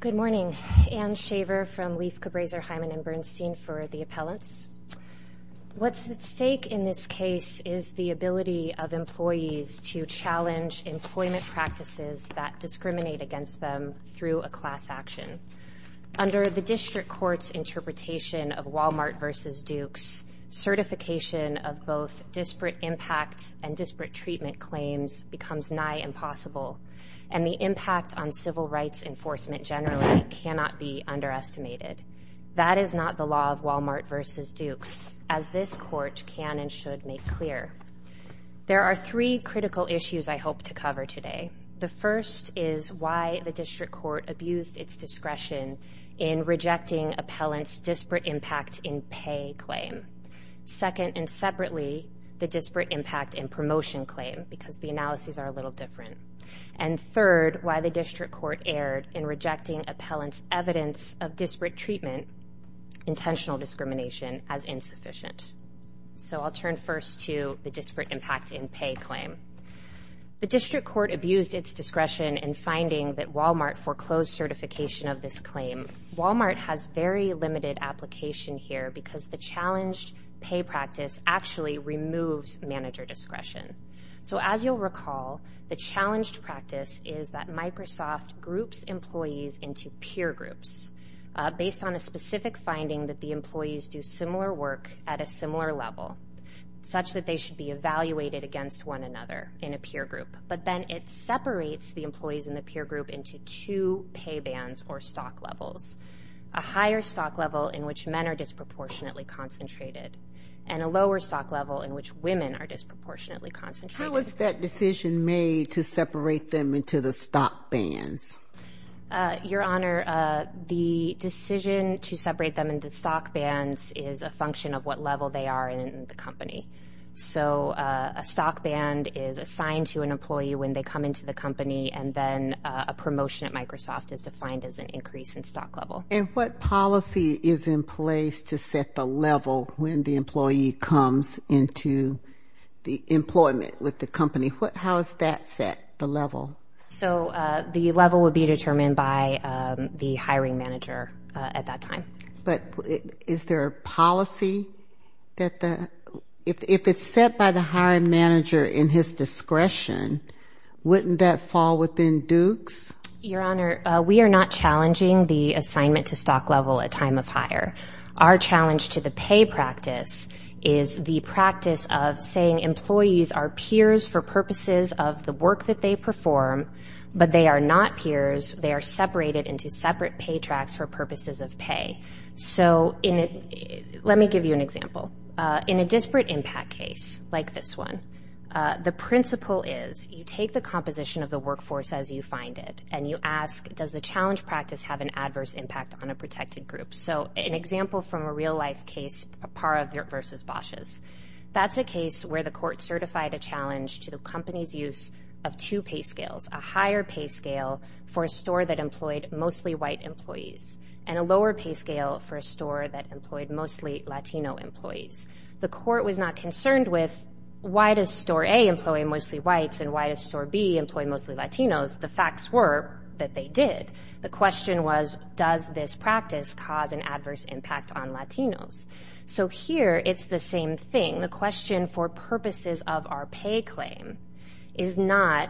Good morning. Anne Shaver from Leif, Cabraser, Hyman & Bernstein for the Appellants. What's at stake in this case is the ability of employees to challenge employment practices that discriminate against them through a class action. Under the District Court's interpretation of Walmart v. Dukes, certification of both disparate impact and disparate treatment claims becomes nigh impossible, and the impact on civil rights enforcement generally cannot be underestimated. That is not the law of Walmart v. Dukes, as this Court can and should make clear. There are three critical issues I hope to cover today. The first is why the District Court abused its discretion in rejecting Appellants' disparate impact in pay claim. Second, and separately, the disparate impact in promotion claim, because the analyses are a little different. And third, why the District Court erred in rejecting Appellants' evidence of disparate treatment, intentional discrimination, as insufficient. So I'll turn first to the disparate impact in pay claim. The District Court abused its discretion in finding that Walmart foreclosed certification of this claim. Walmart has very limited application here because the challenged pay practice actually removes manager discretion. So as you'll recall, the challenged practice is that Microsoft groups employees into peer groups, based on a specific finding that the employees do similar work at a similar level, such that they should be evaluated against one another in a peer group. But then it separates the employees in the peer group into two pay bands or stock levels. A higher stock level in which men are disproportionately concentrated, and a lower stock level in which women are disproportionately concentrated. How was that decision made to separate them into the stock bands? Your Honor, the decision to separate them into stock bands is a function of what level they are in the company. So a stock band is assigned to an employee when they come into the company, and then a promotion at Microsoft is defined as an increase in stock level. And what policy is in place to set the level when the employee comes into the employment with the company? How is that set, the level? So the level would be determined by the hiring manager at that time. But is there a policy that the ñ if it's set by the hiring manager in his discretion, wouldn't that fall within Duke's? Your Honor, we are not challenging the assignment to stock level at time of hire. Our challenge to the pay practice is the practice of saying employees are peers for purposes of the work that they perform, but they are not peers. They are separated into separate pay tracks for purposes of pay. So in a ñ let me give you an example. In a disparate impact case like this one, the principle is you take the composition of the workforce as you find it, and you ask, does the challenge practice have an adverse impact on a protected group? So an example from a real-life case, Pappara v. Bosh's, that's a case where the court certified a challenge to the company's use of two pay scales, a higher pay scale for a store that employed mostly white employees and a lower pay scale for a store that employed mostly Latino employees. The court was not concerned with why does store A employ mostly whites and why does store B employ mostly Latinos. The facts were that they did. The question was, does this practice cause an adverse impact on Latinos? So here it's the same thing. The question for purposes of our pay claim is not,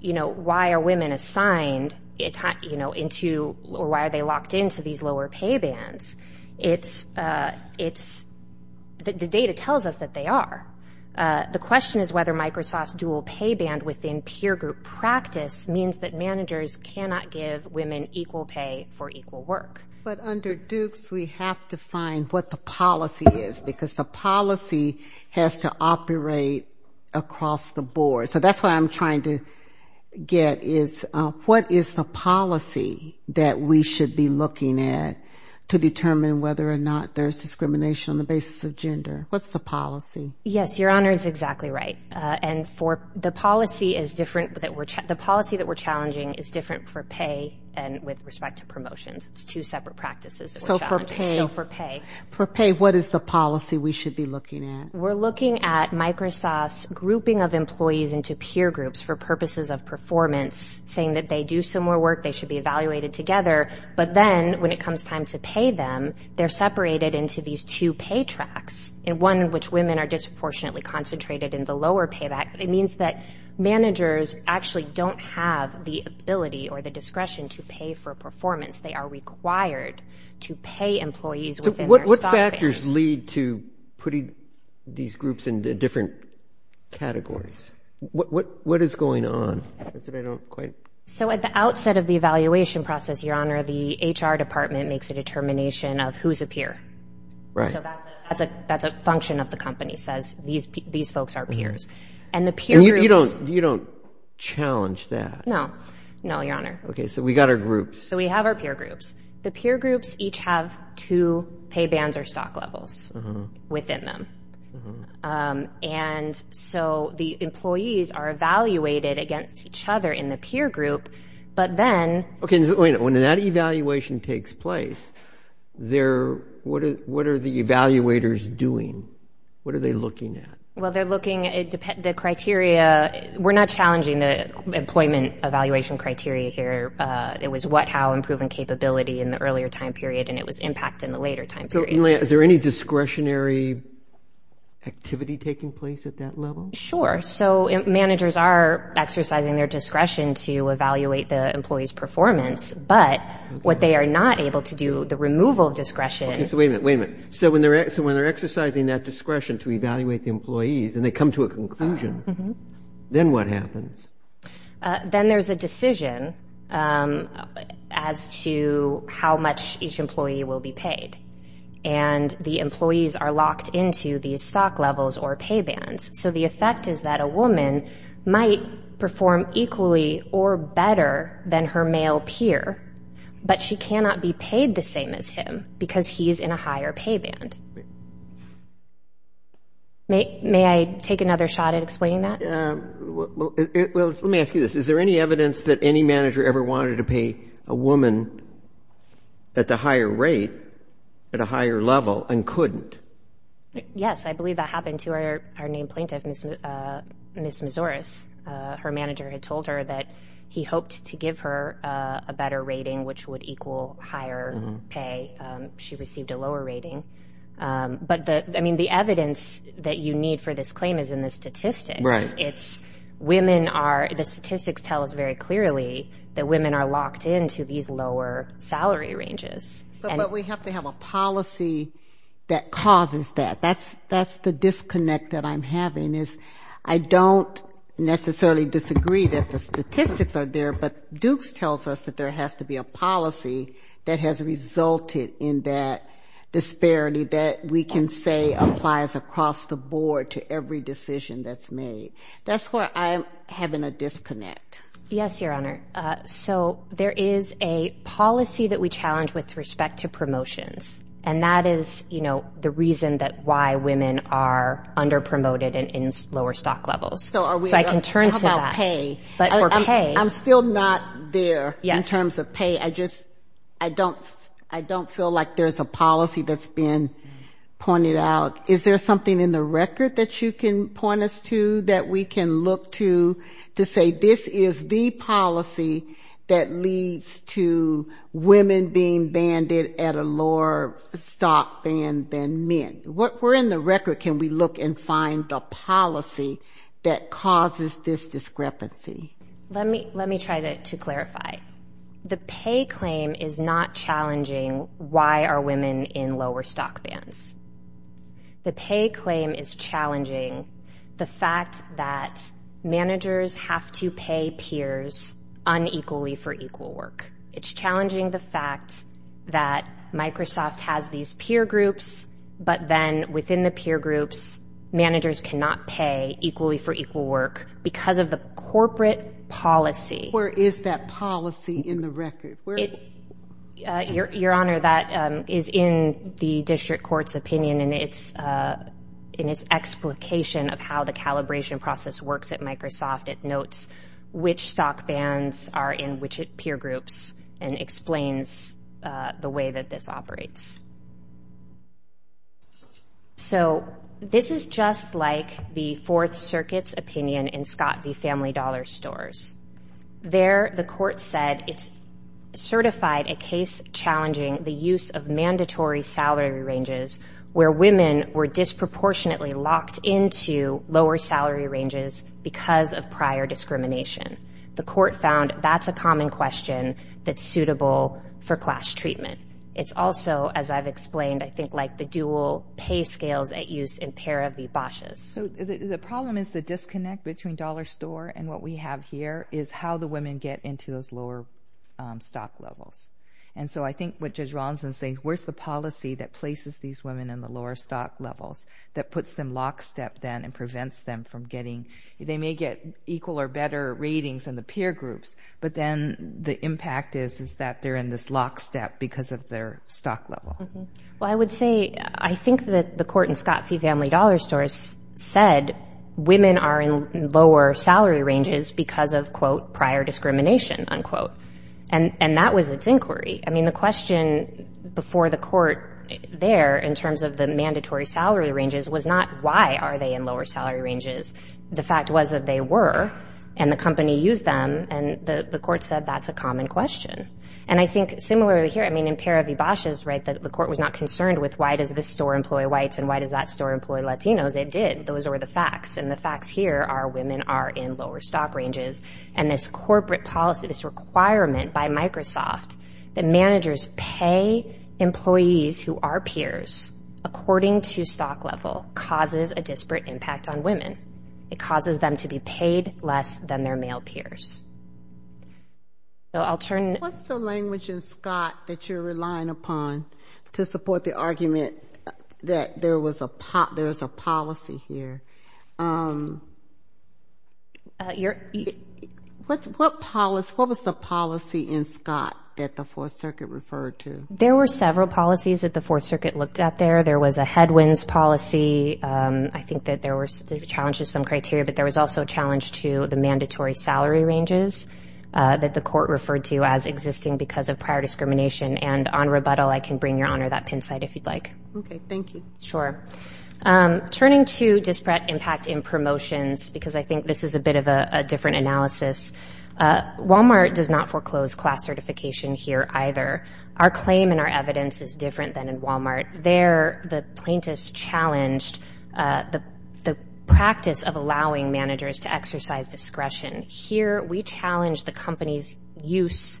you know, why are women assigned into ñ or why are they locked into these lower pay bands. It's ñ the data tells us that they are. The question is whether Microsoft's dual pay band within peer group practice means that managers cannot give women equal pay for equal work. But under Dukes, we have to find what the policy is because the policy has to operate across the board. So that's what I'm trying to get is what is the policy that we should be looking at to determine whether or not there's discrimination on the basis of gender. What's the policy? Yes, Your Honor is exactly right. And for ñ the policy is different that we're ñ the policy that we're challenging is different for pay and with respect to promotions. It's two separate practices that we're challenging. So for pay. So for pay. For pay, what is the policy we should be looking at? We're looking at Microsoft's grouping of employees into peer groups for purposes of performance, saying that they do similar work, they should be evaluated together, but then when it comes time to pay them, they're separated into these two pay tracks, and one in which women are disproportionately concentrated in the lower pay back. It means that managers actually don't have the ability or the discretion to pay for performance. They are required to pay employees within their stock balance. So what factors lead to putting these groups into different categories? What is going on? So at the outset of the evaluation process, Your Honor, the HR department makes a determination of who's a peer. Right. So that's a function of the company, says these folks are peers. And the peer groups ñ And you don't challenge that? No. No, Your Honor. Okay. So we've got our groups. So we have our peer groups. The peer groups each have two pay bands or stock levels within them. And so the employees are evaluated against each other in the peer group, but then ñ Okay, so wait a minute. When that evaluation takes place, what are the evaluators doing? What are they looking at? Well, they're looking at the criteria ñ We're not challenging the employment evaluation criteria here. It was what, how, and proven capability in the earlier time period, and it was impact in the later time period. Is there any discretionary activity taking place at that level? Sure. So managers are exercising their discretion to evaluate the employees' performance, but what they are not able to do, the removal of discretion ñ Okay, so wait a minute. Wait a minute. So when they're exercising that discretion to evaluate the employees and they come to a conclusion, then what happens? Then there's a decision as to how much each employee will be paid, and the employees are locked into these stock levels or pay bands. So the effect is that a woman might perform equally or better than her male peer, but she cannot be paid the same as him because he's in a higher pay band. May I take another shot at explaining that? Well, let me ask you this. Is there any evidence that any manager ever wanted to pay a woman at the higher rate, at a higher level, and couldn't? Yes. I believe that happened to our named plaintiff, Ms. Mazuris. Her manager had told her that he hoped to give her a better rating, which would equal higher pay. She received a lower rating. But, I mean, the evidence that you need for this claim is in the statistics. Right. It's women are ñ the statistics tell us very clearly that women are locked into these lower salary ranges. But we have to have a policy that causes that. That's the disconnect that I'm having is I don't necessarily disagree that the statistics are there, but Dukes tells us that there has to be a policy that has resulted in that disparity that we can say applies across the board to every decision that's made. That's where I'm having a disconnect. Yes, Your Honor. So there is a policy that we challenge with respect to promotions, and that is, you know, the reason that why women are underpromoted in lower stock levels. So are we ñ So I can turn to that. How about pay? I'm still not there in terms of pay. I just ñ I don't feel like there's a policy that's been pointed out. Is there something in the record that you can point us to that we can look to, to say this is the policy that leads to women being banded at a lower stock band than men? Where in the record can we look and find the policy that causes this discrepancy? Let me try to clarify. The pay claim is not challenging why are women in lower stock bands. The pay claim is challenging the fact that managers have to pay peers unequally for equal work. It's challenging the fact that Microsoft has these peer groups, but then within the peer groups managers cannot pay equally for equal work because of the corporate policy. Where is that policy in the record? Your Honor, that is in the district court's opinion and it's in its explication of how the calibration process works at Microsoft. It notes which stock bands are in which peer groups and explains the way that this operates. So this is just like the Fourth Circuit's opinion in Scott v. Family Dollar Stores. There the court said it's certified a case challenging the use of mandatory salary ranges where women were disproportionately locked into lower salary ranges because of prior discrimination. The court found that's a common question that's suitable for class treatment. It's also, as I've explained, I think like the dual pay scales at use in Para v. Bosh's. So the problem is the disconnect between Dollar Store and what we have here is how the women get into those lower stock levels. And so I think what Judge Ronson's saying, where's the policy that places these women in the lower stock levels that puts them lockstep then and prevents them from getting, they may get equal or better ratings in the peer groups, but then the impact is that they're in this lockstep because of their stock level. Well, I would say, I think that the court in Scott v. Family Dollar Stores said women are in lower salary ranges because of, quote, prior discrimination, unquote. And that was its inquiry. I mean, the question before the court there in terms of the mandatory salary ranges was not, why are they in lower salary ranges? The fact was that they were, and the company used them, and the court said that's a common question. And I think similarly here, I mean, in Para v. Bosh's, right, the court was not concerned with why does this store employ whites and why does that store employ Latinos. It did. Those were the facts. And the facts here are women are in lower stock ranges. And this corporate policy, this requirement by Microsoft that managers pay employees who are peers, according to stock level, causes a disparate impact on women. It causes them to be paid less than their male peers. So I'll turn. What's the language in Scott that you're relying upon to support the argument that there was a policy here? What was the policy in Scott that the Fourth Circuit referred to? There were several policies that the Fourth Circuit looked at there. There was a headwinds policy. I think that there were challenges to some criteria, but there was also a challenge to the mandatory salary ranges that the court referred to as existing because of prior discrimination. And on rebuttal, I can bring, Your Honor, that pin site if you'd like. Okay. Thank you. Sure. Turning to disparate impact in promotions, because I think this is a bit of a different analysis, Walmart does not foreclose class certification here either. Our claim and our evidence is different than in Walmart. There, the plaintiffs challenged the practice of allowing managers to exercise discretion. Here, we challenge the company's use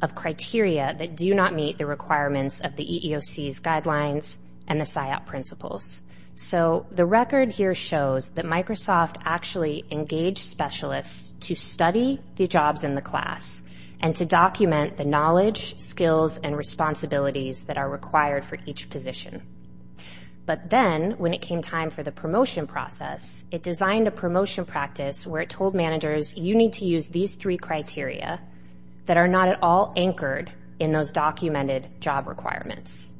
of criteria that do not meet the requirements of the EEOC's guidelines and the SIOP principles. So the record here shows that Microsoft actually engaged specialists to study the jobs in the class and to document the knowledge, skills, and responsibilities that are required for each position. But then, when it came time for the promotion process, it designed a promotion practice where it told managers, You need to use these three criteria that are not at all anchored in those documented job requirements.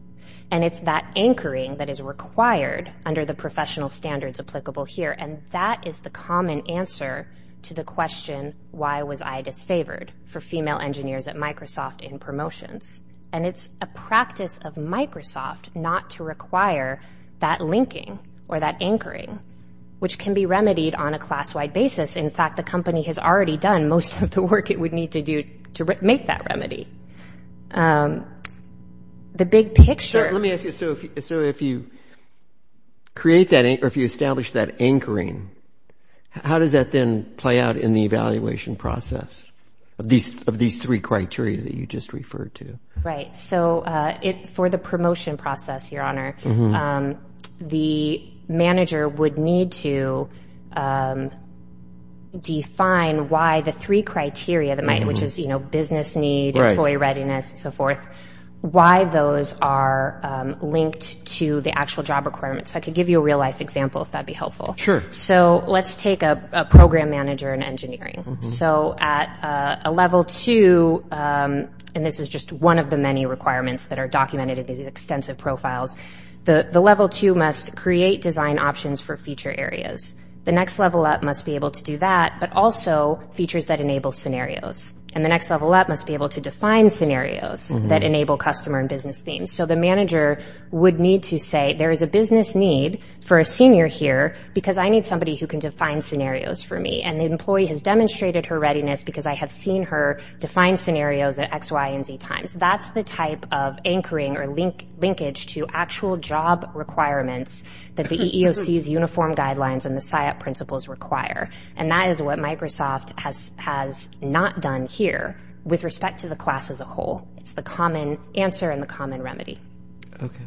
And it's that anchoring that is required under the professional standards applicable here, and that is the common answer to the question, Why was I disfavored for female engineers at Microsoft in promotions? And it's a practice of Microsoft not to require that linking or that anchoring, which can be remedied on a class-wide basis. In fact, the company has already done most of the work it would need to do to make that remedy. The big picture— Let me ask you, so if you create that, or if you establish that anchoring, how does that then play out in the evaluation process of these three criteria that you just referred to? Right. So for the promotion process, Your Honor, the manager would need to define why the three criteria, which is business need, employee readiness, and so forth, why those are linked to the actual job requirements. So I could give you a real-life example if that would be helpful. Sure. So let's take a program manager in engineering. So at a level two—and this is just one of the many requirements that are documented in these extensive profiles— the level two must create design options for feature areas. The next level up must be able to do that, but also features that enable scenarios. And the next level up must be able to define scenarios that enable customer and business themes. So the manager would need to say, there is a business need for a senior here because I need somebody who can define scenarios for me. And the employee has demonstrated her readiness because I have seen her define scenarios at X, Y, and Z times. That's the type of anchoring or linkage to actual job requirements that the EEOC's uniform guidelines and the SIOP principles require. And that is what Microsoft has not done here with respect to the class as a whole. It's the common answer and the common remedy. Okay.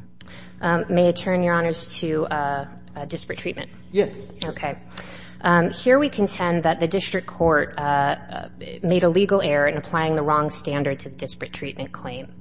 May I turn, Your Honors, to disparate treatment? Yes. Okay. Here we contend that the district court made a legal error in applying the wrong standard to the disparate treatment claim.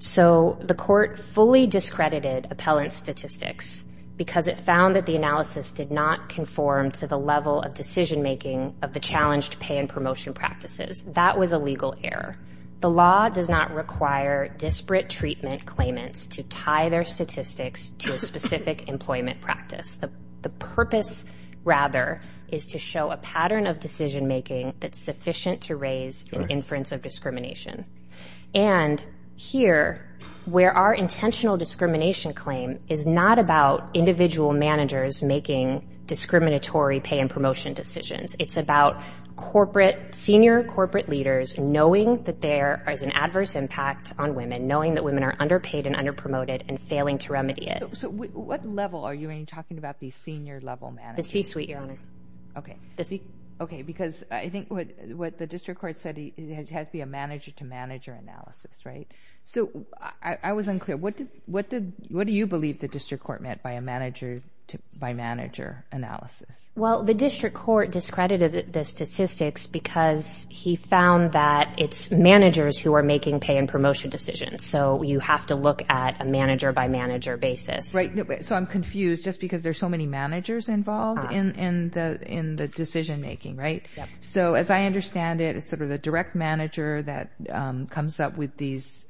So the court fully discredited appellant statistics because it found that the analysis did not conform to the level of decision-making of the challenged pay and promotion practices. That was a legal error. The law does not require disparate treatment claimants to tie their statistics to a specific employment practice. The purpose, rather, is to show a pattern of decision-making that's sufficient to raise an inference of discrimination. And here, where our intentional discrimination claim is not about individual managers making discriminatory pay and promotion decisions, it's about senior corporate leaders knowing that there is an adverse impact on women, knowing that women are underpaid and underpromoted, and failing to remedy it. So what level are you talking about these senior-level managers? The C-suite, Your Honor. Okay. Because I think what the district court said, it has to be a manager-to-manager analysis, right? So I was unclear. What do you believe the district court meant by a manager-to-manager analysis? Well, the district court discredited the statistics because he found that it's managers who are making pay and promotion decisions, so you have to look at a manager-by-manager basis. Right. So I'm confused just because there's so many managers involved in the decision-making, right? Yep. So as I understand it, it's sort of the direct manager that comes up with these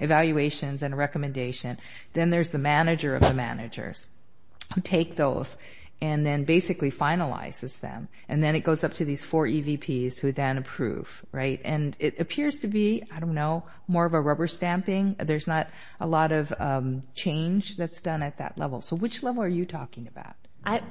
evaluations and a recommendation. Then there's the manager of the managers who take those and then basically finalizes them, and then it goes up to these four EVPs who then approve, right? And it appears to be, I don't know, more of a rubber stamping. There's not a lot of change that's done at that level. So which level are you talking about?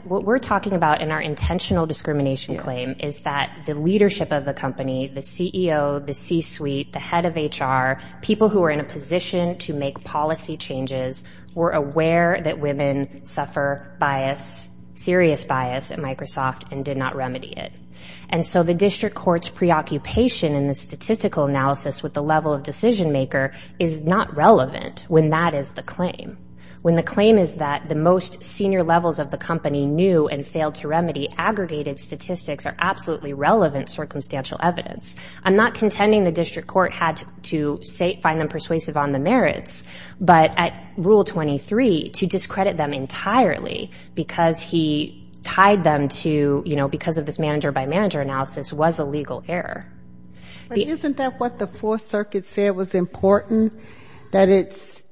What we're talking about in our intentional discrimination claim is that the leadership of the company, the CEO, the C-suite, the head of HR, people who are in a position to make policy changes, were aware that women suffer bias, serious bias, at Microsoft and did not remedy it. And so the district court's preoccupation in the statistical analysis with the level of decision-maker is not relevant when that is the claim. When the claim is that the most senior levels of the company knew and failed to remedy, aggregated statistics are absolutely relevant circumstantial evidence. I'm not contending the district court had to find them persuasive on the merits, but at Rule 23, to discredit them entirely because he tied them to, you know, because of this manager-by-manager analysis was a legal error. Isn't that what the Fourth Circuit said was important? That it's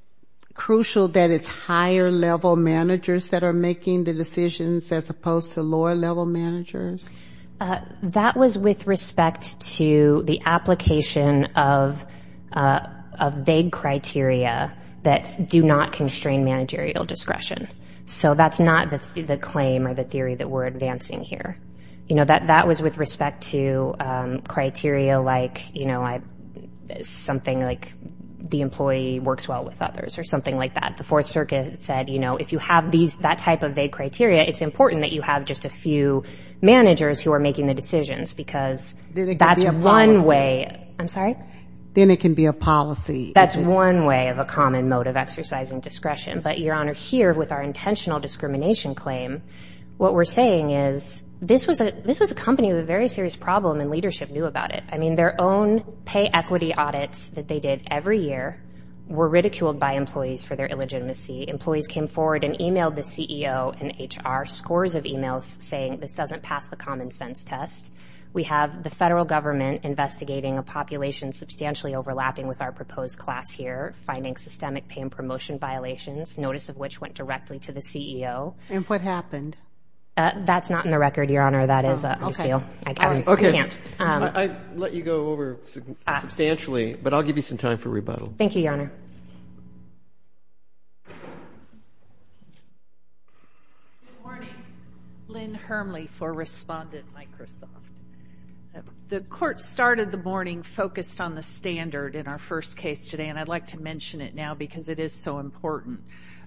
crucial that it's higher-level managers that are making the decisions as opposed to lower-level managers? That was with respect to the application of vague criteria that do not constrain managerial discretion. So that's not the claim or the theory that we're advancing here. You know, that was with respect to criteria like, you know, something like the employee works well with others or something like that. The Fourth Circuit said, you know, if you have that type of vague criteria, it's important that you have just a few managers who are making the decisions because that's one way. I'm sorry? Then it can be a policy. That's one way of a common mode of exercising discretion. But, Your Honor, here with our intentional discrimination claim, what we're saying is this was a company with a very serious problem and leadership knew about it. I mean, their own pay equity audits that they did every year were ridiculed by employees for their illegitimacy. Employees came forward and e-mailed the CEO and HR scores of e-mails saying this doesn't pass the common sense test. We have the federal government investigating a population substantially overlapping with our proposed class here, finding systemic pay and promotion violations, notice of which went directly to the CEO. And what happened? That's not in the record, Your Honor. That is a loose deal. I can't. Okay. I let you go over substantially, but I'll give you some time for rebuttal. Thank you, Your Honor. Good morning. Lynn Hermley for Respondent Microsoft. The court started the morning focused on the standard in our first case today, and I'd like to mention it now because it is so important.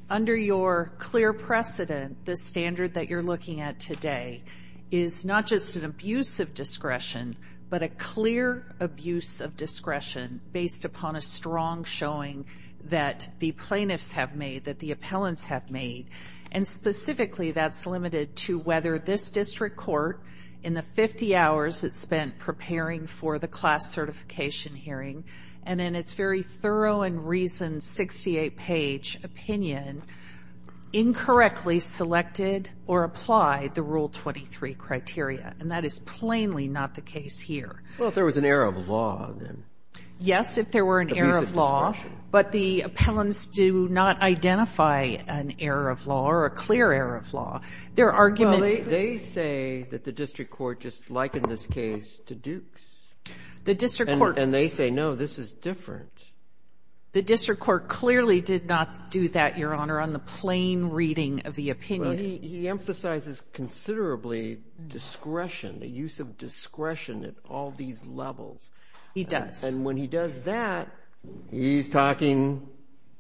Under your clear precedent, the standard that you're looking at today is not just an abuse of discretion, but a clear abuse of discretion based upon a strong showing that the plaintiffs have made, that the appellants have made, and specifically that's limited to whether this district court, in the 50 hours it spent preparing for the class certification hearing, and in its very thorough and reasoned 68-page opinion, incorrectly selected or applied the Rule 23 criteria. And that is plainly not the case here. Well, if there was an error of law, then. Yes, if there were an error of law. Abuse of discretion. But the appellants do not identify an error of law or a clear error of law. Their argument – Well, they say that the district court just likened this case to Duke's. The district court – And they say, no, this is different. The district court clearly did not do that, Your Honor, on the plain reading of the opinion. Well, he emphasizes considerably discretion, the use of discretion at all these levels. He does. And when he does that, he's talking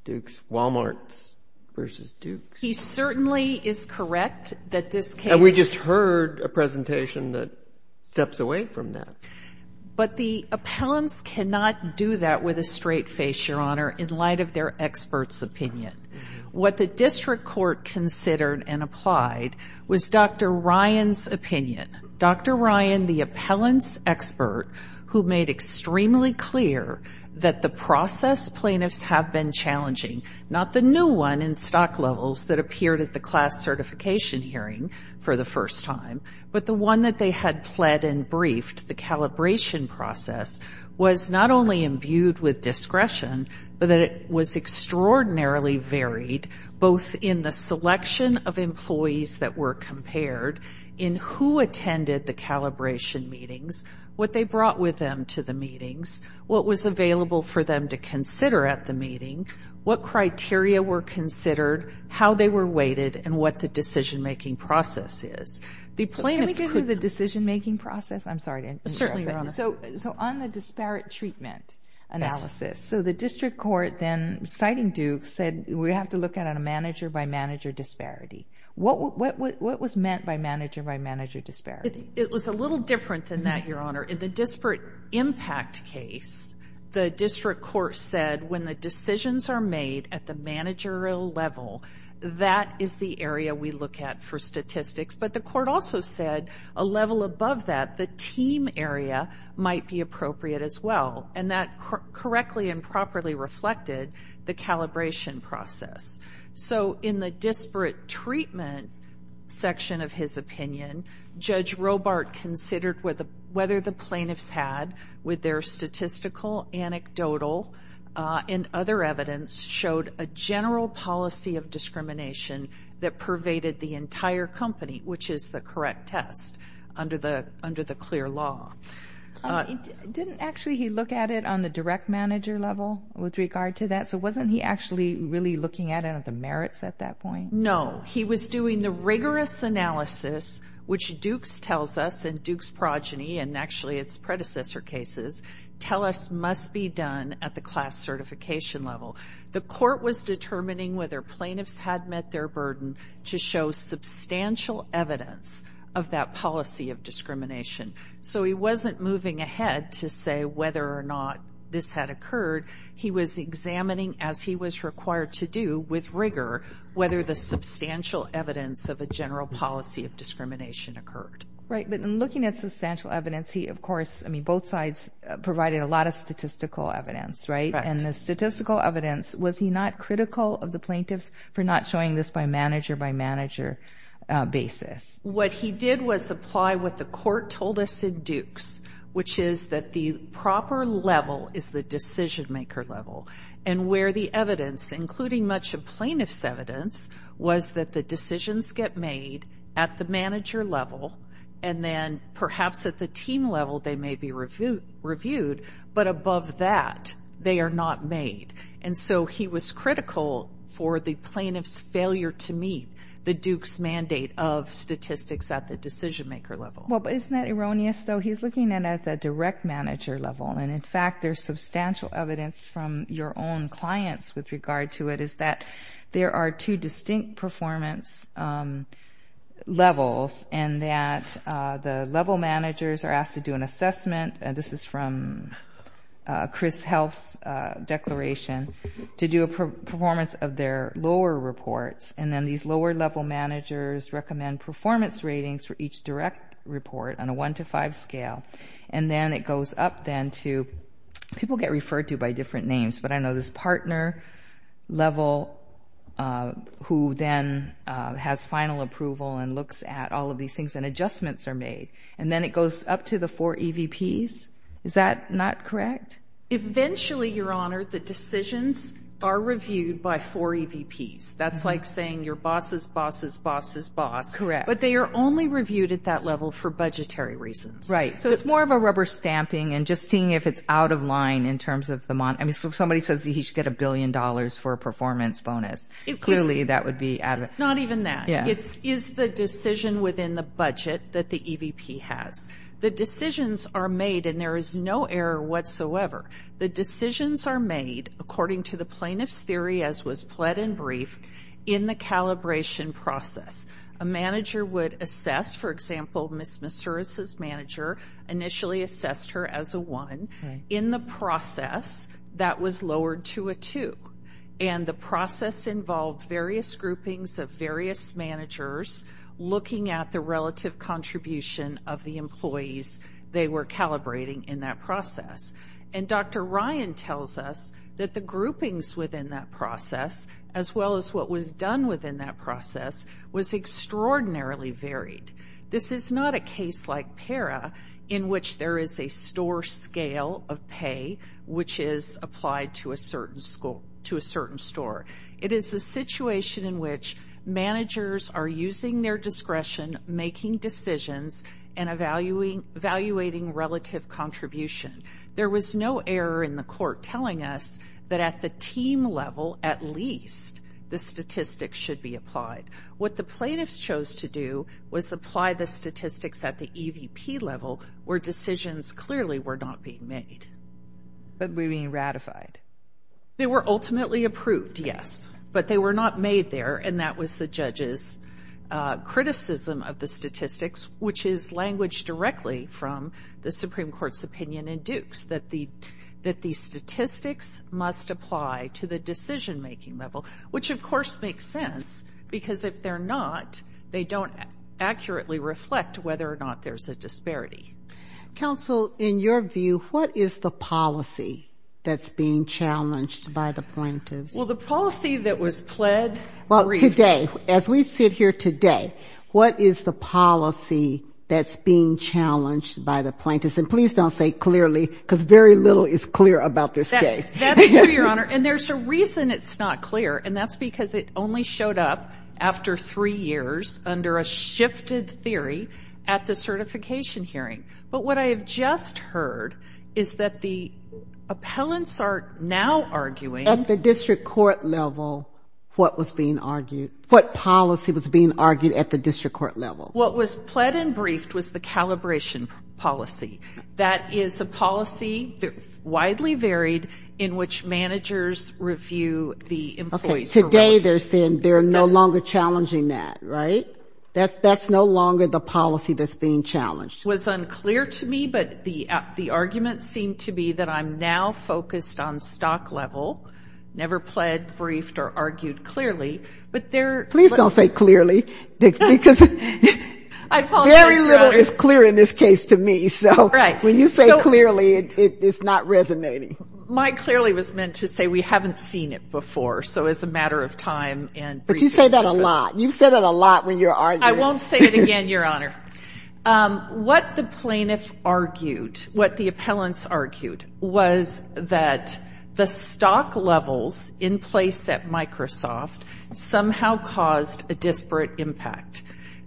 Duke's Walmarts versus Duke's. He certainly is correct that this case – And we just heard a presentation that steps away from that. But the appellants cannot do that with a straight face, Your Honor, in light of their expert's opinion. What the district court considered and applied was Dr. Ryan's opinion. Dr. Ryan, the appellant's expert, who made extremely clear that the process plaintiffs have been challenging, not the new one in stock levels that appeared at the class certification hearing for the first time, but the one that they had pled and briefed, the calibration process, was not only imbued with discretion but that it was extraordinarily varied, both in the selection of employees that were compared, in who attended the calibration meetings, what they brought with them to the meetings, what was available for them to consider at the meeting, what criteria were considered, how they were weighted, and what the decision-making process is. Can we get into the decision-making process? I'm sorry to interrupt. Certainly, Your Honor. So on the disparate treatment analysis, so the district court then, citing Duke, said we have to look at a manager-by-manager disparity. What was meant by manager-by-manager disparity? It was a little different than that, Your Honor. In the disparate impact case, the district court said when the decisions are made at the managerial level, that is the area we look at for statistics. But the court also said a level above that, the team area, might be appropriate as well. And that correctly and properly reflected the calibration process. So in the disparate treatment section of his opinion, Judge Robart considered whether the plaintiffs had, with their statistical, anecdotal, and other evidence, showed a general policy of discrimination that pervaded the entire company. Which is the correct test under the clear law. Didn't actually he look at it on the direct manager level with regard to that? So wasn't he actually really looking at it at the merits at that point? No. He was doing the rigorous analysis, which Dukes tells us, and Dukes' progeny, and actually its predecessor cases, tell us must be done at the class certification level. The court was determining whether plaintiffs had met their burden to show substantial evidence of that policy of discrimination. So he wasn't moving ahead to say whether or not this had occurred. He was examining, as he was required to do, with rigor, whether the substantial evidence of a general policy of discrimination occurred. Right, but in looking at substantial evidence, he, of course, I mean both sides provided a lot of statistical evidence, right? And the statistical evidence, was he not critical of the plaintiffs for not showing this by manager-by-manager basis? What he did was apply what the court told us in Dukes, which is that the proper level is the decision-maker level. And where the evidence, including much of plaintiff's evidence, was that the decisions get made at the manager level, and then perhaps at the team level they may be reviewed, but above that they are not made. And so he was critical for the plaintiff's failure to meet the Dukes mandate of statistics at the decision-maker level. Well, isn't that erroneous, though? He's looking at it at the direct manager level, and in fact there's substantial evidence from your own clients with regard to it, is that there are two distinct performance levels, and that the level managers are asked to do an assessment. This is from Chris Helps' declaration, to do a performance of their lower reports, and then these lower-level managers recommend performance ratings for each direct report on a one-to-five scale. And then it goes up then to people get referred to by different names, but I know this partner level who then has final approval and looks at all of these things, and adjustments are made. And then it goes up to the four EVPs. Is that not correct? Eventually, Your Honor, the decisions are reviewed by four EVPs. That's like saying your boss's boss's boss's boss. Correct. But they are only reviewed at that level for budgetary reasons. Right, so it's more of a rubber stamping and just seeing if it's out of line in terms of the money. I mean, if somebody says he should get a billion dollars for a performance bonus, clearly that would be out of it. It's not even that. It is the decision within the budget that the EVP has. The decisions are made, and there is no error whatsoever. The decisions are made, according to the plaintiff's theory, as was pled and briefed, in the calibration process. A manager would assess, for example, Ms. Masuris's manager initially assessed her as a one. In the process, that was lowered to a two. And the process involved various groupings of various managers looking at the relative contribution of the employees they were calibrating in that process. And Dr. Ryan tells us that the groupings within that process, as well as what was done within that process, was extraordinarily varied. This is not a case like PARA in which there is a store scale of pay which is applied to a certain store. It is a situation in which managers are using their discretion, making decisions, and evaluating relative contribution. There was no error in the court telling us that at the team level, at least, the statistics should be applied. What the plaintiffs chose to do was apply the statistics at the EVP level where decisions clearly were not being made but were being ratified. They were ultimately approved, yes, but they were not made there, and that was the judge's criticism of the statistics, which is language directly from the Supreme Court's opinion in Dukes, that the statistics must apply to the decision-making level, which, of course, makes sense because if they're not, they don't accurately reflect whether or not there's a disparity. Counsel, in your view, what is the policy that's being challenged by the plaintiffs? Well, the policy that was pled. Well, today, as we sit here today, what is the policy that's being challenged by the plaintiffs? And please don't say clearly because very little is clear about this case. That's true, Your Honor, and there's a reason it's not clear, and that's because it only showed up after three years under a shifted theory at the certification hearing. But what I have just heard is that the appellants are now arguing. At the district court level, what was being argued? What policy was being argued at the district court level? What was pled and briefed was the calibration policy. That is a policy, widely varied, in which managers review the employees. Okay, today they're saying they're no longer challenging that, right? That's no longer the policy that's being challenged. It was unclear to me, but the argument seemed to be that I'm now focused on stock level, never pled, briefed, or argued clearly, but there are... I apologize, Your Honor. It's clear in this case to me, so when you say clearly, it's not resonating. My clearly was meant to say we haven't seen it before, so it's a matter of time. But you say that a lot. You've said that a lot when you're arguing. I won't say it again, Your Honor. What the plaintiff argued, what the appellants argued, was that the stock levels in place at Microsoft somehow caused a disparate impact.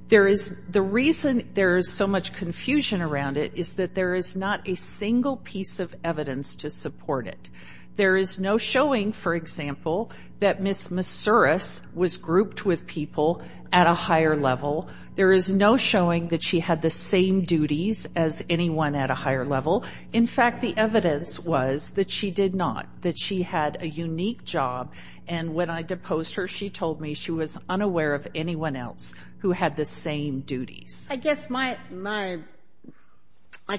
The reason there is so much confusion around it is that there is not a single piece of evidence to support it. There is no showing, for example, that Ms. Messuras was grouped with people at a higher level. There is no showing that she had the same duties as anyone at a higher level. In fact, the evidence was that she did not, that she had a unique job, and when I deposed her, she told me she was unaware of anyone else who had the same duties. I guess my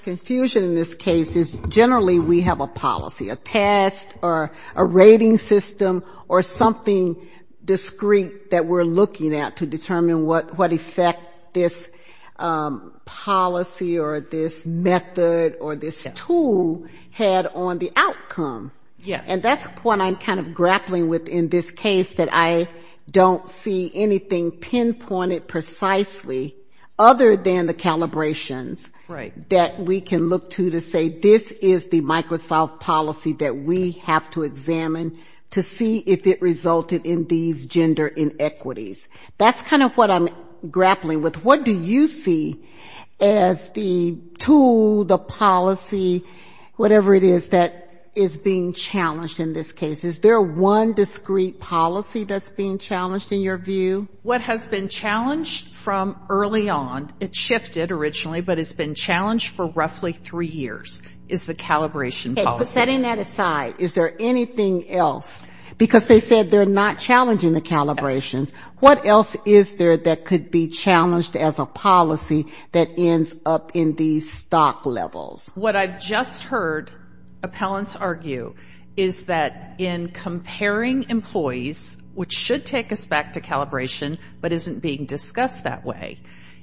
confusion in this case is generally we have a policy, a test, or a rating system, or something discreet that we're looking at to determine what effect this policy or this method or this tool had on the outcome. And that's what I'm kind of grappling with in this case, that I don't see anything pinpointed precisely other than the calibrations that we can look to to say, this is the Microsoft policy that we have to examine to see if it resulted in these gender inequities. That's kind of what I'm grappling with. What do you see as the tool, the policy, whatever it is that is being challenged in this case? Is there one discreet policy that's being challenged in your view? What has been challenged from early on, it shifted originally, but it's been challenged for roughly three years is the calibration policy. But setting that aside, is there anything else? Because they said they're not challenging the calibrations. What else is there that could be challenged as a policy that ends up in these stock levels? What I've just heard appellants argue is that in comparing employees, which should take us back to calibration, but isn't being discussed that way,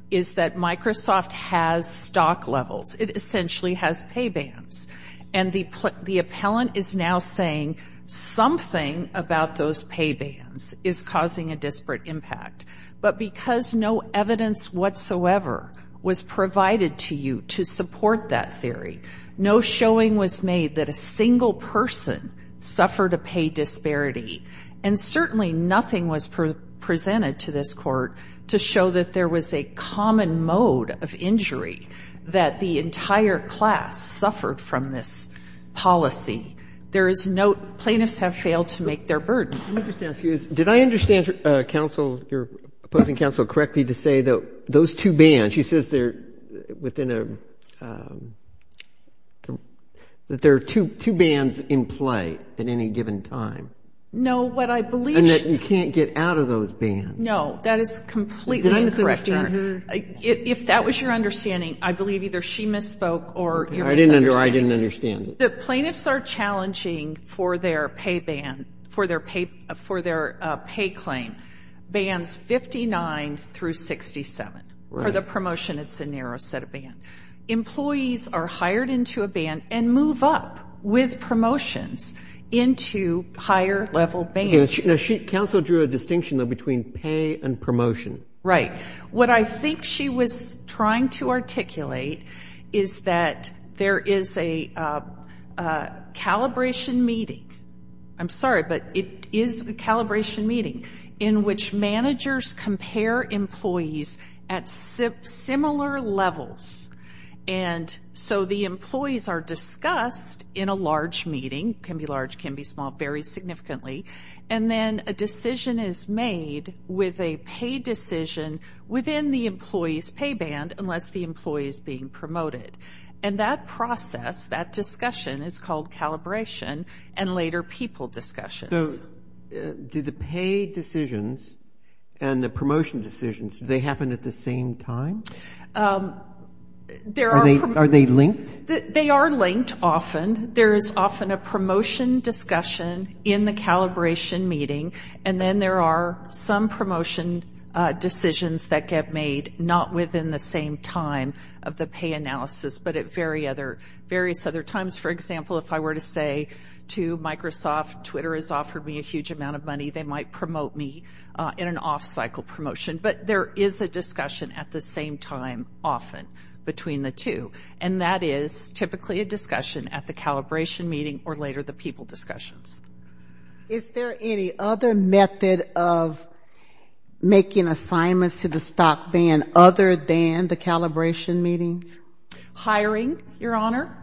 is that Microsoft has stock levels. It essentially has pay bans. And the appellant is now saying something about those pay bans is causing a disparate impact. But because no evidence whatsoever was provided to you to support that theory, no showing was made that a single person suffered a pay disparity. And certainly nothing was presented to this Court to show that there was a common mode of injury that the entire class suffered from this policy. There is no plaintiffs have failed to make their burden. Let me just ask you, did I understand counsel, your opposing counsel correctly to say that those two bans, she says they're within a, that there are two bans in play at any given time. No, what I believe. And that you can't get out of those bans. No, that is completely incorrect, Your Honor. If that was your understanding, I believe either she misspoke or you're misunderstanding. No, I didn't understand it. The plaintiffs are challenging for their pay ban, for their pay claim, bans 59 through 67. For the promotion, it's a narrow set of bans. Employees are hired into a ban and move up with promotions into higher level bans. Counsel drew a distinction, though, between pay and promotion. What I think she was trying to articulate is that there is a calibration meeting. I'm sorry, but it is a calibration meeting in which managers compare employees at similar levels. So the employees are discussed in a large meeting, can be large, can be small, very significantly. And then a decision is made with a pay decision within the employee's pay band unless the employee is being promoted. And that process, that discussion, is called calibration and later people discussions. Do the pay decisions and the promotion decisions, do they happen at the same time? Are they linked? They are linked often. There is often a promotion discussion in the calibration meeting and then there are some promotion decisions that get made not within the same time of the pay analysis, but at various other times. For example, if I were to say to Microsoft, Twitter has offered me a huge amount of money, they might promote me in an off-cycle promotion. But there is a discussion at the same time often between the two. And that is typically a discussion at the calibration meeting or later the people discussions. Is there any other method of making assignments to the stock band other than the calibration meetings? Hiring, Your Honor.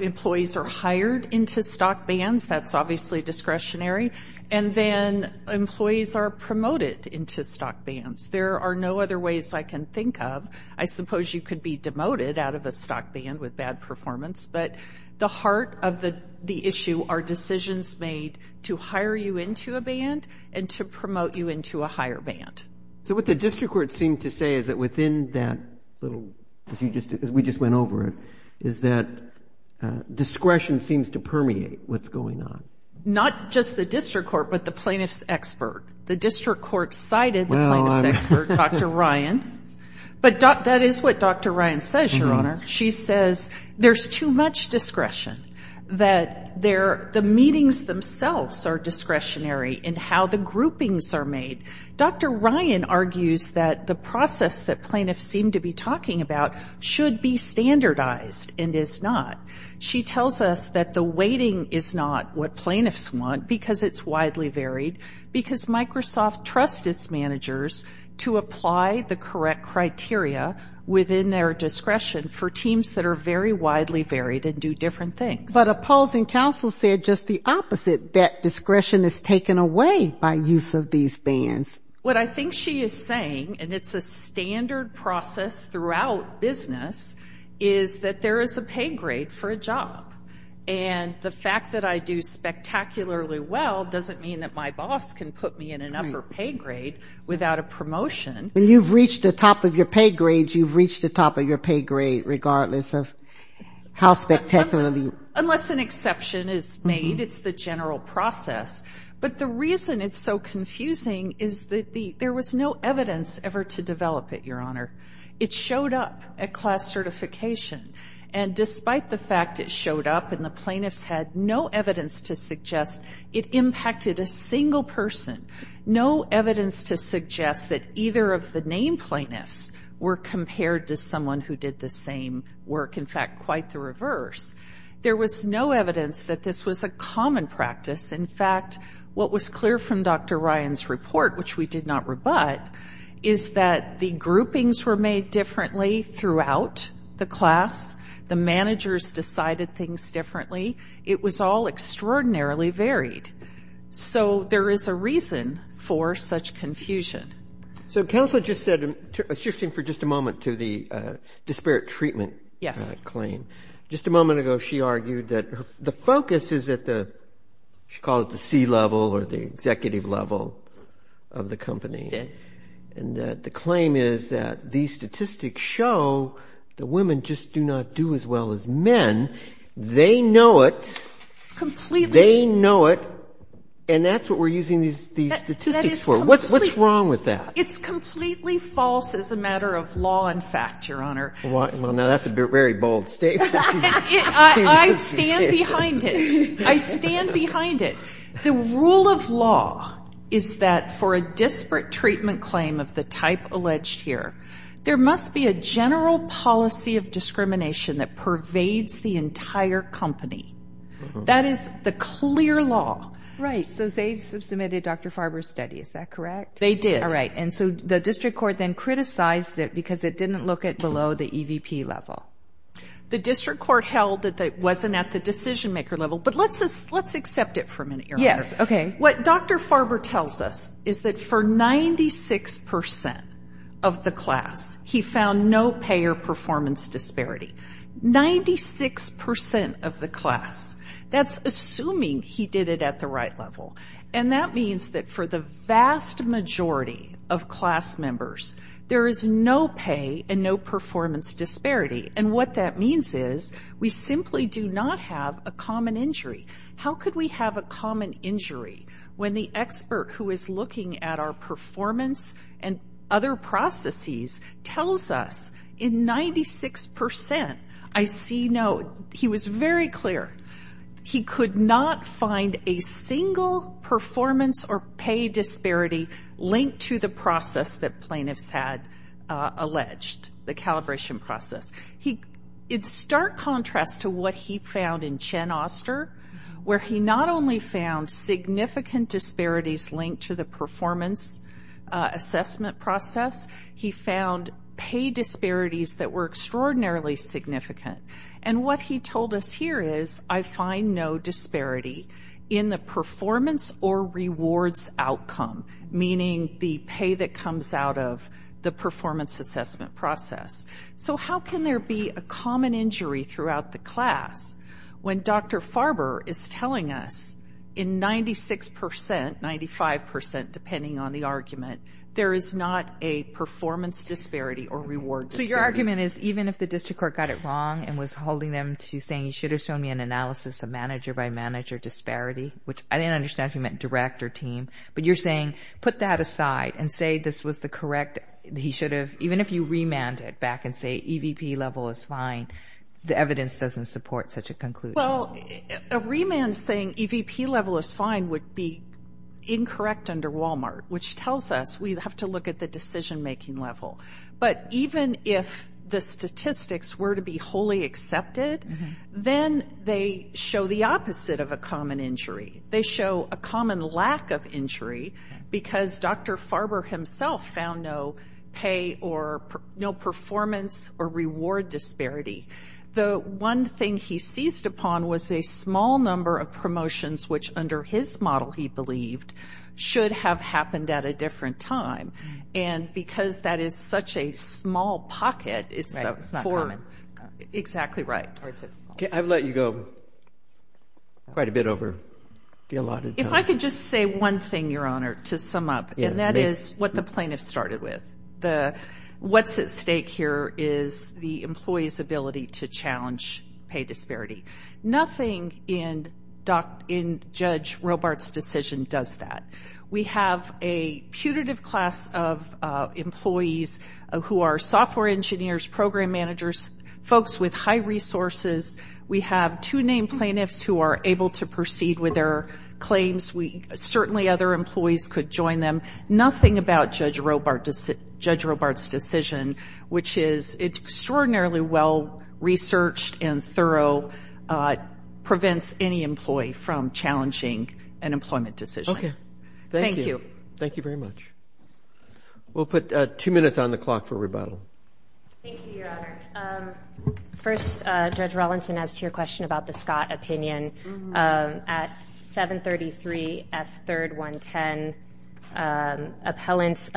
Employees are hired into stock bands, that is obviously discretionary. And then employees are promoted into stock bands. There are no other ways I can think of, I suppose you could be demoted out of a stock band with bad performance, but the heart of the issue are decisions made to hire you into a band and to promote you into a higher band. So what the district court seemed to say is that within that little, we just went over it, is that discretion seems to permeate what is going on. Not just the district court, but the plaintiff's expert. The district court cited the plaintiff's expert, Dr. Ryan, but that is what Dr. Ryan says, Your Honor. She says there is too much discretion, that the meetings themselves are discretionary in how the groupings are made. Dr. Ryan argues that the process that plaintiffs seem to be talking about should be standardized and is not. She tells us that the weighting is not what plaintiffs want, because it's widely varied, because Microsoft trusts its managers to apply the correct criteria within their discretion for teams that are very widely varied and do different things. But opposing counsel said just the opposite, that discretion is taken away by use of these bands. What I think she is saying, and it's a standard process throughout business, is that there is a pay grade for a job. And the fact that I do spectacularly well doesn't mean that my boss can put me in an upper pay grade without a promotion. When you've reached the top of your pay grade, you've reached the top of your pay grade, regardless of how spectacularly you do it. Unless an exception is made, it's the general process. But the reason it's so confusing is that there was no evidence ever to develop it, Your Honor. It showed up at class certification. And despite the fact it showed up and the plaintiffs had no evidence to suggest it impacted a single person, no evidence to suggest that either of the named plaintiffs were compared to someone who did the same work. In fact, quite the reverse. There was no evidence that this was a common practice. In fact, what was clear from Dr. Ryan's report, which we did not rebut, is that the groupings were made differently throughout the class. The managers decided things differently. It was all extraordinarily varied. So there is a reason for such confusion. So counsel just said, shifting for just a moment to the disparate treatment claim. Just a moment ago, she argued that the focus is at the, she called it the C level or the executive level of the company. And that the claim is that these statistics show that women just do not do as well as men. They know it. They know it. And that's what we're using these statistics for. What's wrong with that? It's completely false as a matter of law and fact, Your Honor. Well, now that's a very bold statement. I stand behind it. The rule of law is that for a disparate treatment claim of the type alleged here, there must be a general policy of discrimination that pervades the entire company. That is the clear law. Right. So they submitted Dr. Farber's study. Is that correct? They did. All right. And so the district court then criticized it because it didn't look at below the EVP level. The district court held that it wasn't at the decision-maker level. But let's accept it for a minute, Your Honor. Yes. Okay. What Dr. Farber tells us is that for 96 percent of the class, he found no pay or performance disparity. Ninety-six percent of the class. That's assuming he did it at the right level. And that means that for the vast majority of class members, there is no pay and no performance disparity. And what that means is we simply do not have a common injury. How could we have a common injury when the expert who is looking at our performance and other processes tells us in 96 percent, I see no, he was very clear. He could not find a single performance or pay disparity linked to the process that plaintiffs had alleged, the calibration process. In stark contrast to what he found in Chen Oster, where he not only found significant disparities linked to the performance assessment process, he found pay disparities that were extraordinarily significant. And what he told us here is, I find no disparity in the performance or rewards outcome, meaning the pay that comes out of the performance assessment process. So how can there be a common injury throughout the class when Dr. Farber is telling us, in 96 percent, 95 percent, depending on the argument, there is not a performance disparity or reward disparity. So your argument is, even if the district court got it wrong and was holding them to saying, he should have shown me an analysis of manager by manager disparity, which I didn't understand if he meant direct or team, but you're saying, put that aside and say this was the correct, he should have, even if you remand it back and say EVP level is fine, the evidence doesn't support such a conclusion. Well, a remand saying EVP level is fine would be incorrect under Walmart, which tells us we have to look at the decision-making level. But even if the statistics were to be wholly accepted, then they show the opposite of a common injury. They show a common lack of injury, because Dr. Farber himself found no pay or no performance or reward disparity. The one thing he seized upon was a small number of promotions, which under his model, he believed, should have happened at a different time. And because that is such a small pocket, it's not common. Exactly right. I've let you go quite a bit over the allotted time. If I could just say one thing, Your Honor, to sum up, and that is what the plaintiff started with. What's at stake here is the employee's ability to challenge pay disparity. Nothing in Judge Robart's decision does that. We have a putative class of employees who are software engineers, program managers, folks with high resources. We have two named plaintiffs who are able to proceed with their claims. Certainly other employees could join them. Nothing about Judge Robart's decision, which is extraordinarily well researched and thorough, prevents any employee from challenging an employment decision. Thank you. Thank you very much. We'll put two minutes on the clock for rebuttal. Thank you, Your Honor. First, Judge Rawlinson, as to your question about the Scott opinion, at 733 F3rd 110, appellants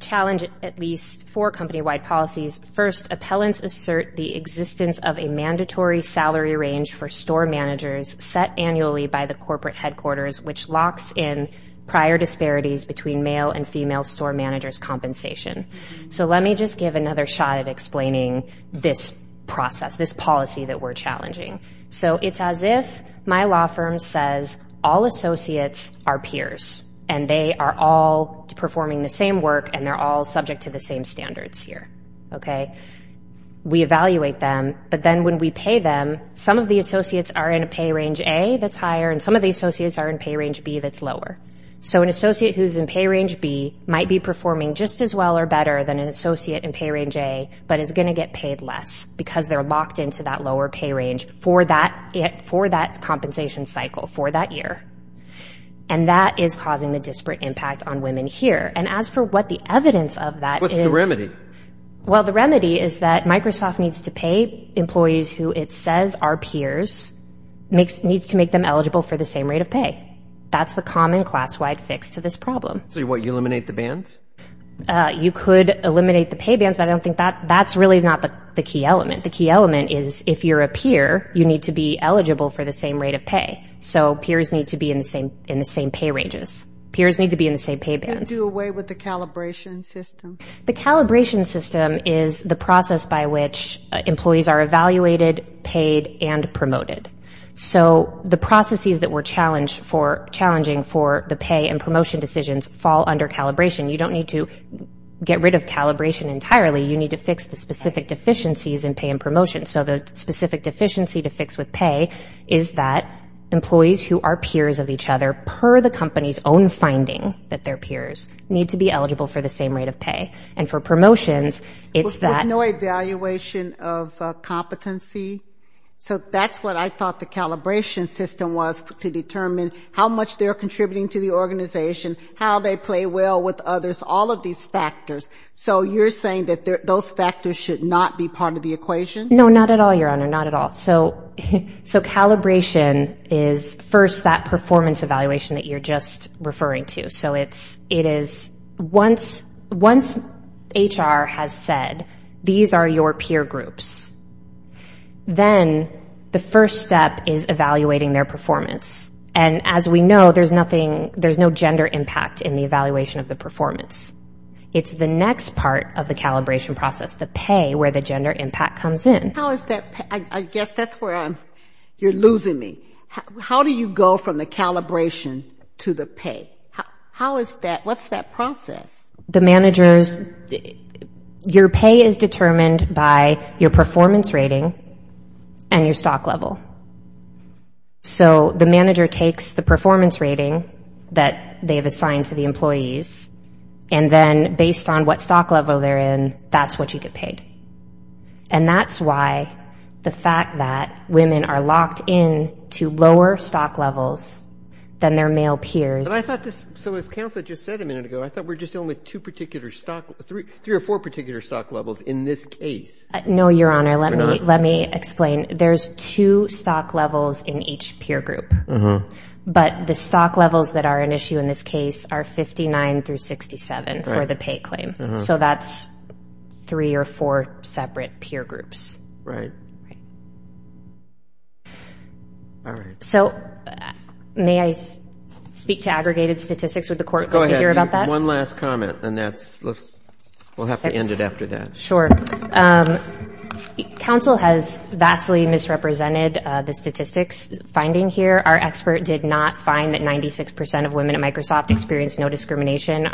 challenge at least four company-wide policies. First, appellants assert the existence of a mandatory salary range for store managers set annually by the corporate headquarters, which locks in prior disparities between male and female store managers' compensation. Let me just give another shot at explaining this process, this policy that we're challenging. It's as if my law firm says all associates are peers, and they are all performing the same work, and they're all subject to the same standards here. We evaluate them, but then when we pay them, some of the associates are in a pay range A that's higher, and some of the associates are in pay range B that's lower. So an associate who's in pay range B might be performing just as well or better than an associate in pay range A, but is going to get paid less because they're locked into that lower pay range for that compensation cycle, for that year. And that is causing a disparate impact on women here. And as for what the evidence of that is. Well, the remedy is that Microsoft needs to pay employees who it says are peers, needs to make them eligible for the same rate of pay. That's the common class-wide fix to this problem. You could eliminate the pay bands, but I don't think that's really not the key element. The key element is if you're a peer, you need to be eligible for the same rate of pay. So peers need to be in the same pay ranges. Peers need to be in the same pay bands. The calibration system is the process by which employees are evaluated, paid, and promoted. So the processes that were challenging for the pay and promotion decisions fall under calibration. You don't need to get rid of calibration entirely. You need to fix the specific deficiencies in pay and promotion. So the specific deficiency to fix with pay is that employees who are peers of each other per the company's own finding that they're peers need to be eligible for the same rate of pay. And for promotions, it's that no evaluation of competency. So that's what I thought the calibration system was to determine how much they're contributing to the organization, how they play well with others, all of these factors. So you're saying that those factors should not be part of the equation? No, not at all, Your Honor, not at all. So calibration is first that performance evaluation that you're just referring to. So it is once HR has said, these are your peer groups. Then the first step is evaluating their performance. And as we know, there's no gender impact in the evaluation of the performance. It's the next part of the calibration process, the pay, where the gender impact comes in. How is that, I guess that's where I'm, you're losing me. How do you go from the calibration to the pay? How is that, what's that process? The managers, your pay is determined by your performance rating and your stock level. So the manager takes the performance rating that they have assigned to the employees, and then based on what stock level they're in, that's what you get paid. And that's why the fact that women are locked in to lower stock levels than their male peers. But I thought this, so as Counselor just said a minute ago, I thought we're just dealing with two particular stock, three or four particular stock levels in this case. No, Your Honor, let me explain. There's two stock levels in each peer group. But the stock levels that are an issue in this case are 59 through 67 for the pay claim. So that's three or four separate peer groups. Right. So may I speak to aggregated statistics? Would the Court like to hear about that? Go ahead. One last comment, and that's, we'll have to end it after that. Sure. Counsel has vastly misrepresented the statistics finding here. Our expert did not find that 96 percent of women at Microsoft experience no discrimination.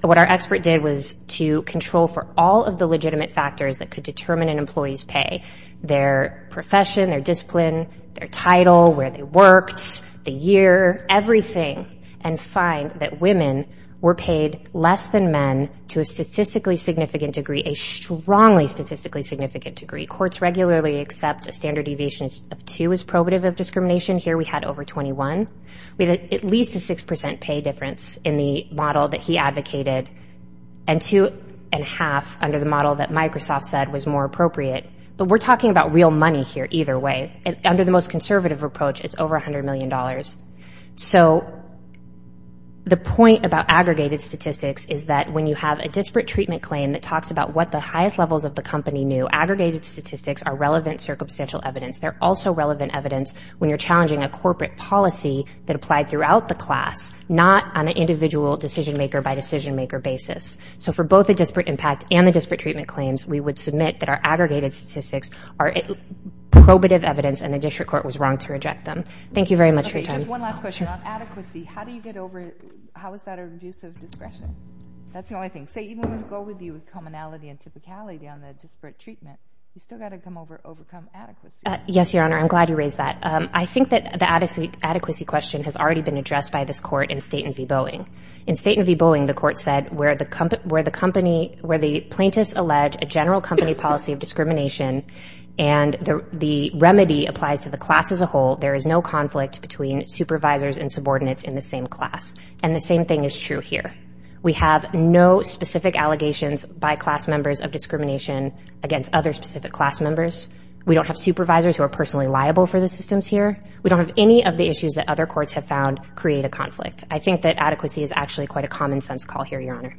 What our expert did was to control for all of the legitimate factors that could determine an employee's pay. Their profession, their discipline, their title, where they worked, the year, everything, and find that women were paid less than men to a statistically significant degree, a strongly statistically significant degree. Courts regularly accept a standard deviation of two as probative of discrimination. Here we had over 21. We had at least a 6 percent pay difference in the model that he advocated, and two and a half under the model that Microsoft said was more appropriate. But we're talking about real money here either way. Under the most conservative approach, it's over $100 million. So the point about aggregated statistics is that when you have a disparate treatment claim that talks about what the highest levels of the company knew, those aggregated statistics are relevant circumstantial evidence. They're also relevant evidence when you're challenging a corporate policy that applied throughout the class, not on an individual decision-maker-by-decision-maker basis. So for both the disparate impact and the disparate treatment claims, we would submit that our aggregated statistics are probative evidence and the district court was wrong to reject them. Thank you very much for your time. Yes, Your Honor, I'm glad you raised that. I think that the adequacy question has already been addressed by this Court in Staten v. Boeing. In Staten v. Boeing, the Court said where the plaintiffs allege a general company policy of discrimination and the remedy applies to the class as a whole, there is no conflict between supervisors and subordinates in the same class, and the same thing is true here. We have no specific allegations by class members of discrimination against other specific class members. We don't have supervisors who are personally liable for the systems here. We don't have any of the issues that other courts have found create a conflict. I think that adequacy is actually quite a common-sense call here, Your Honor. Thank you.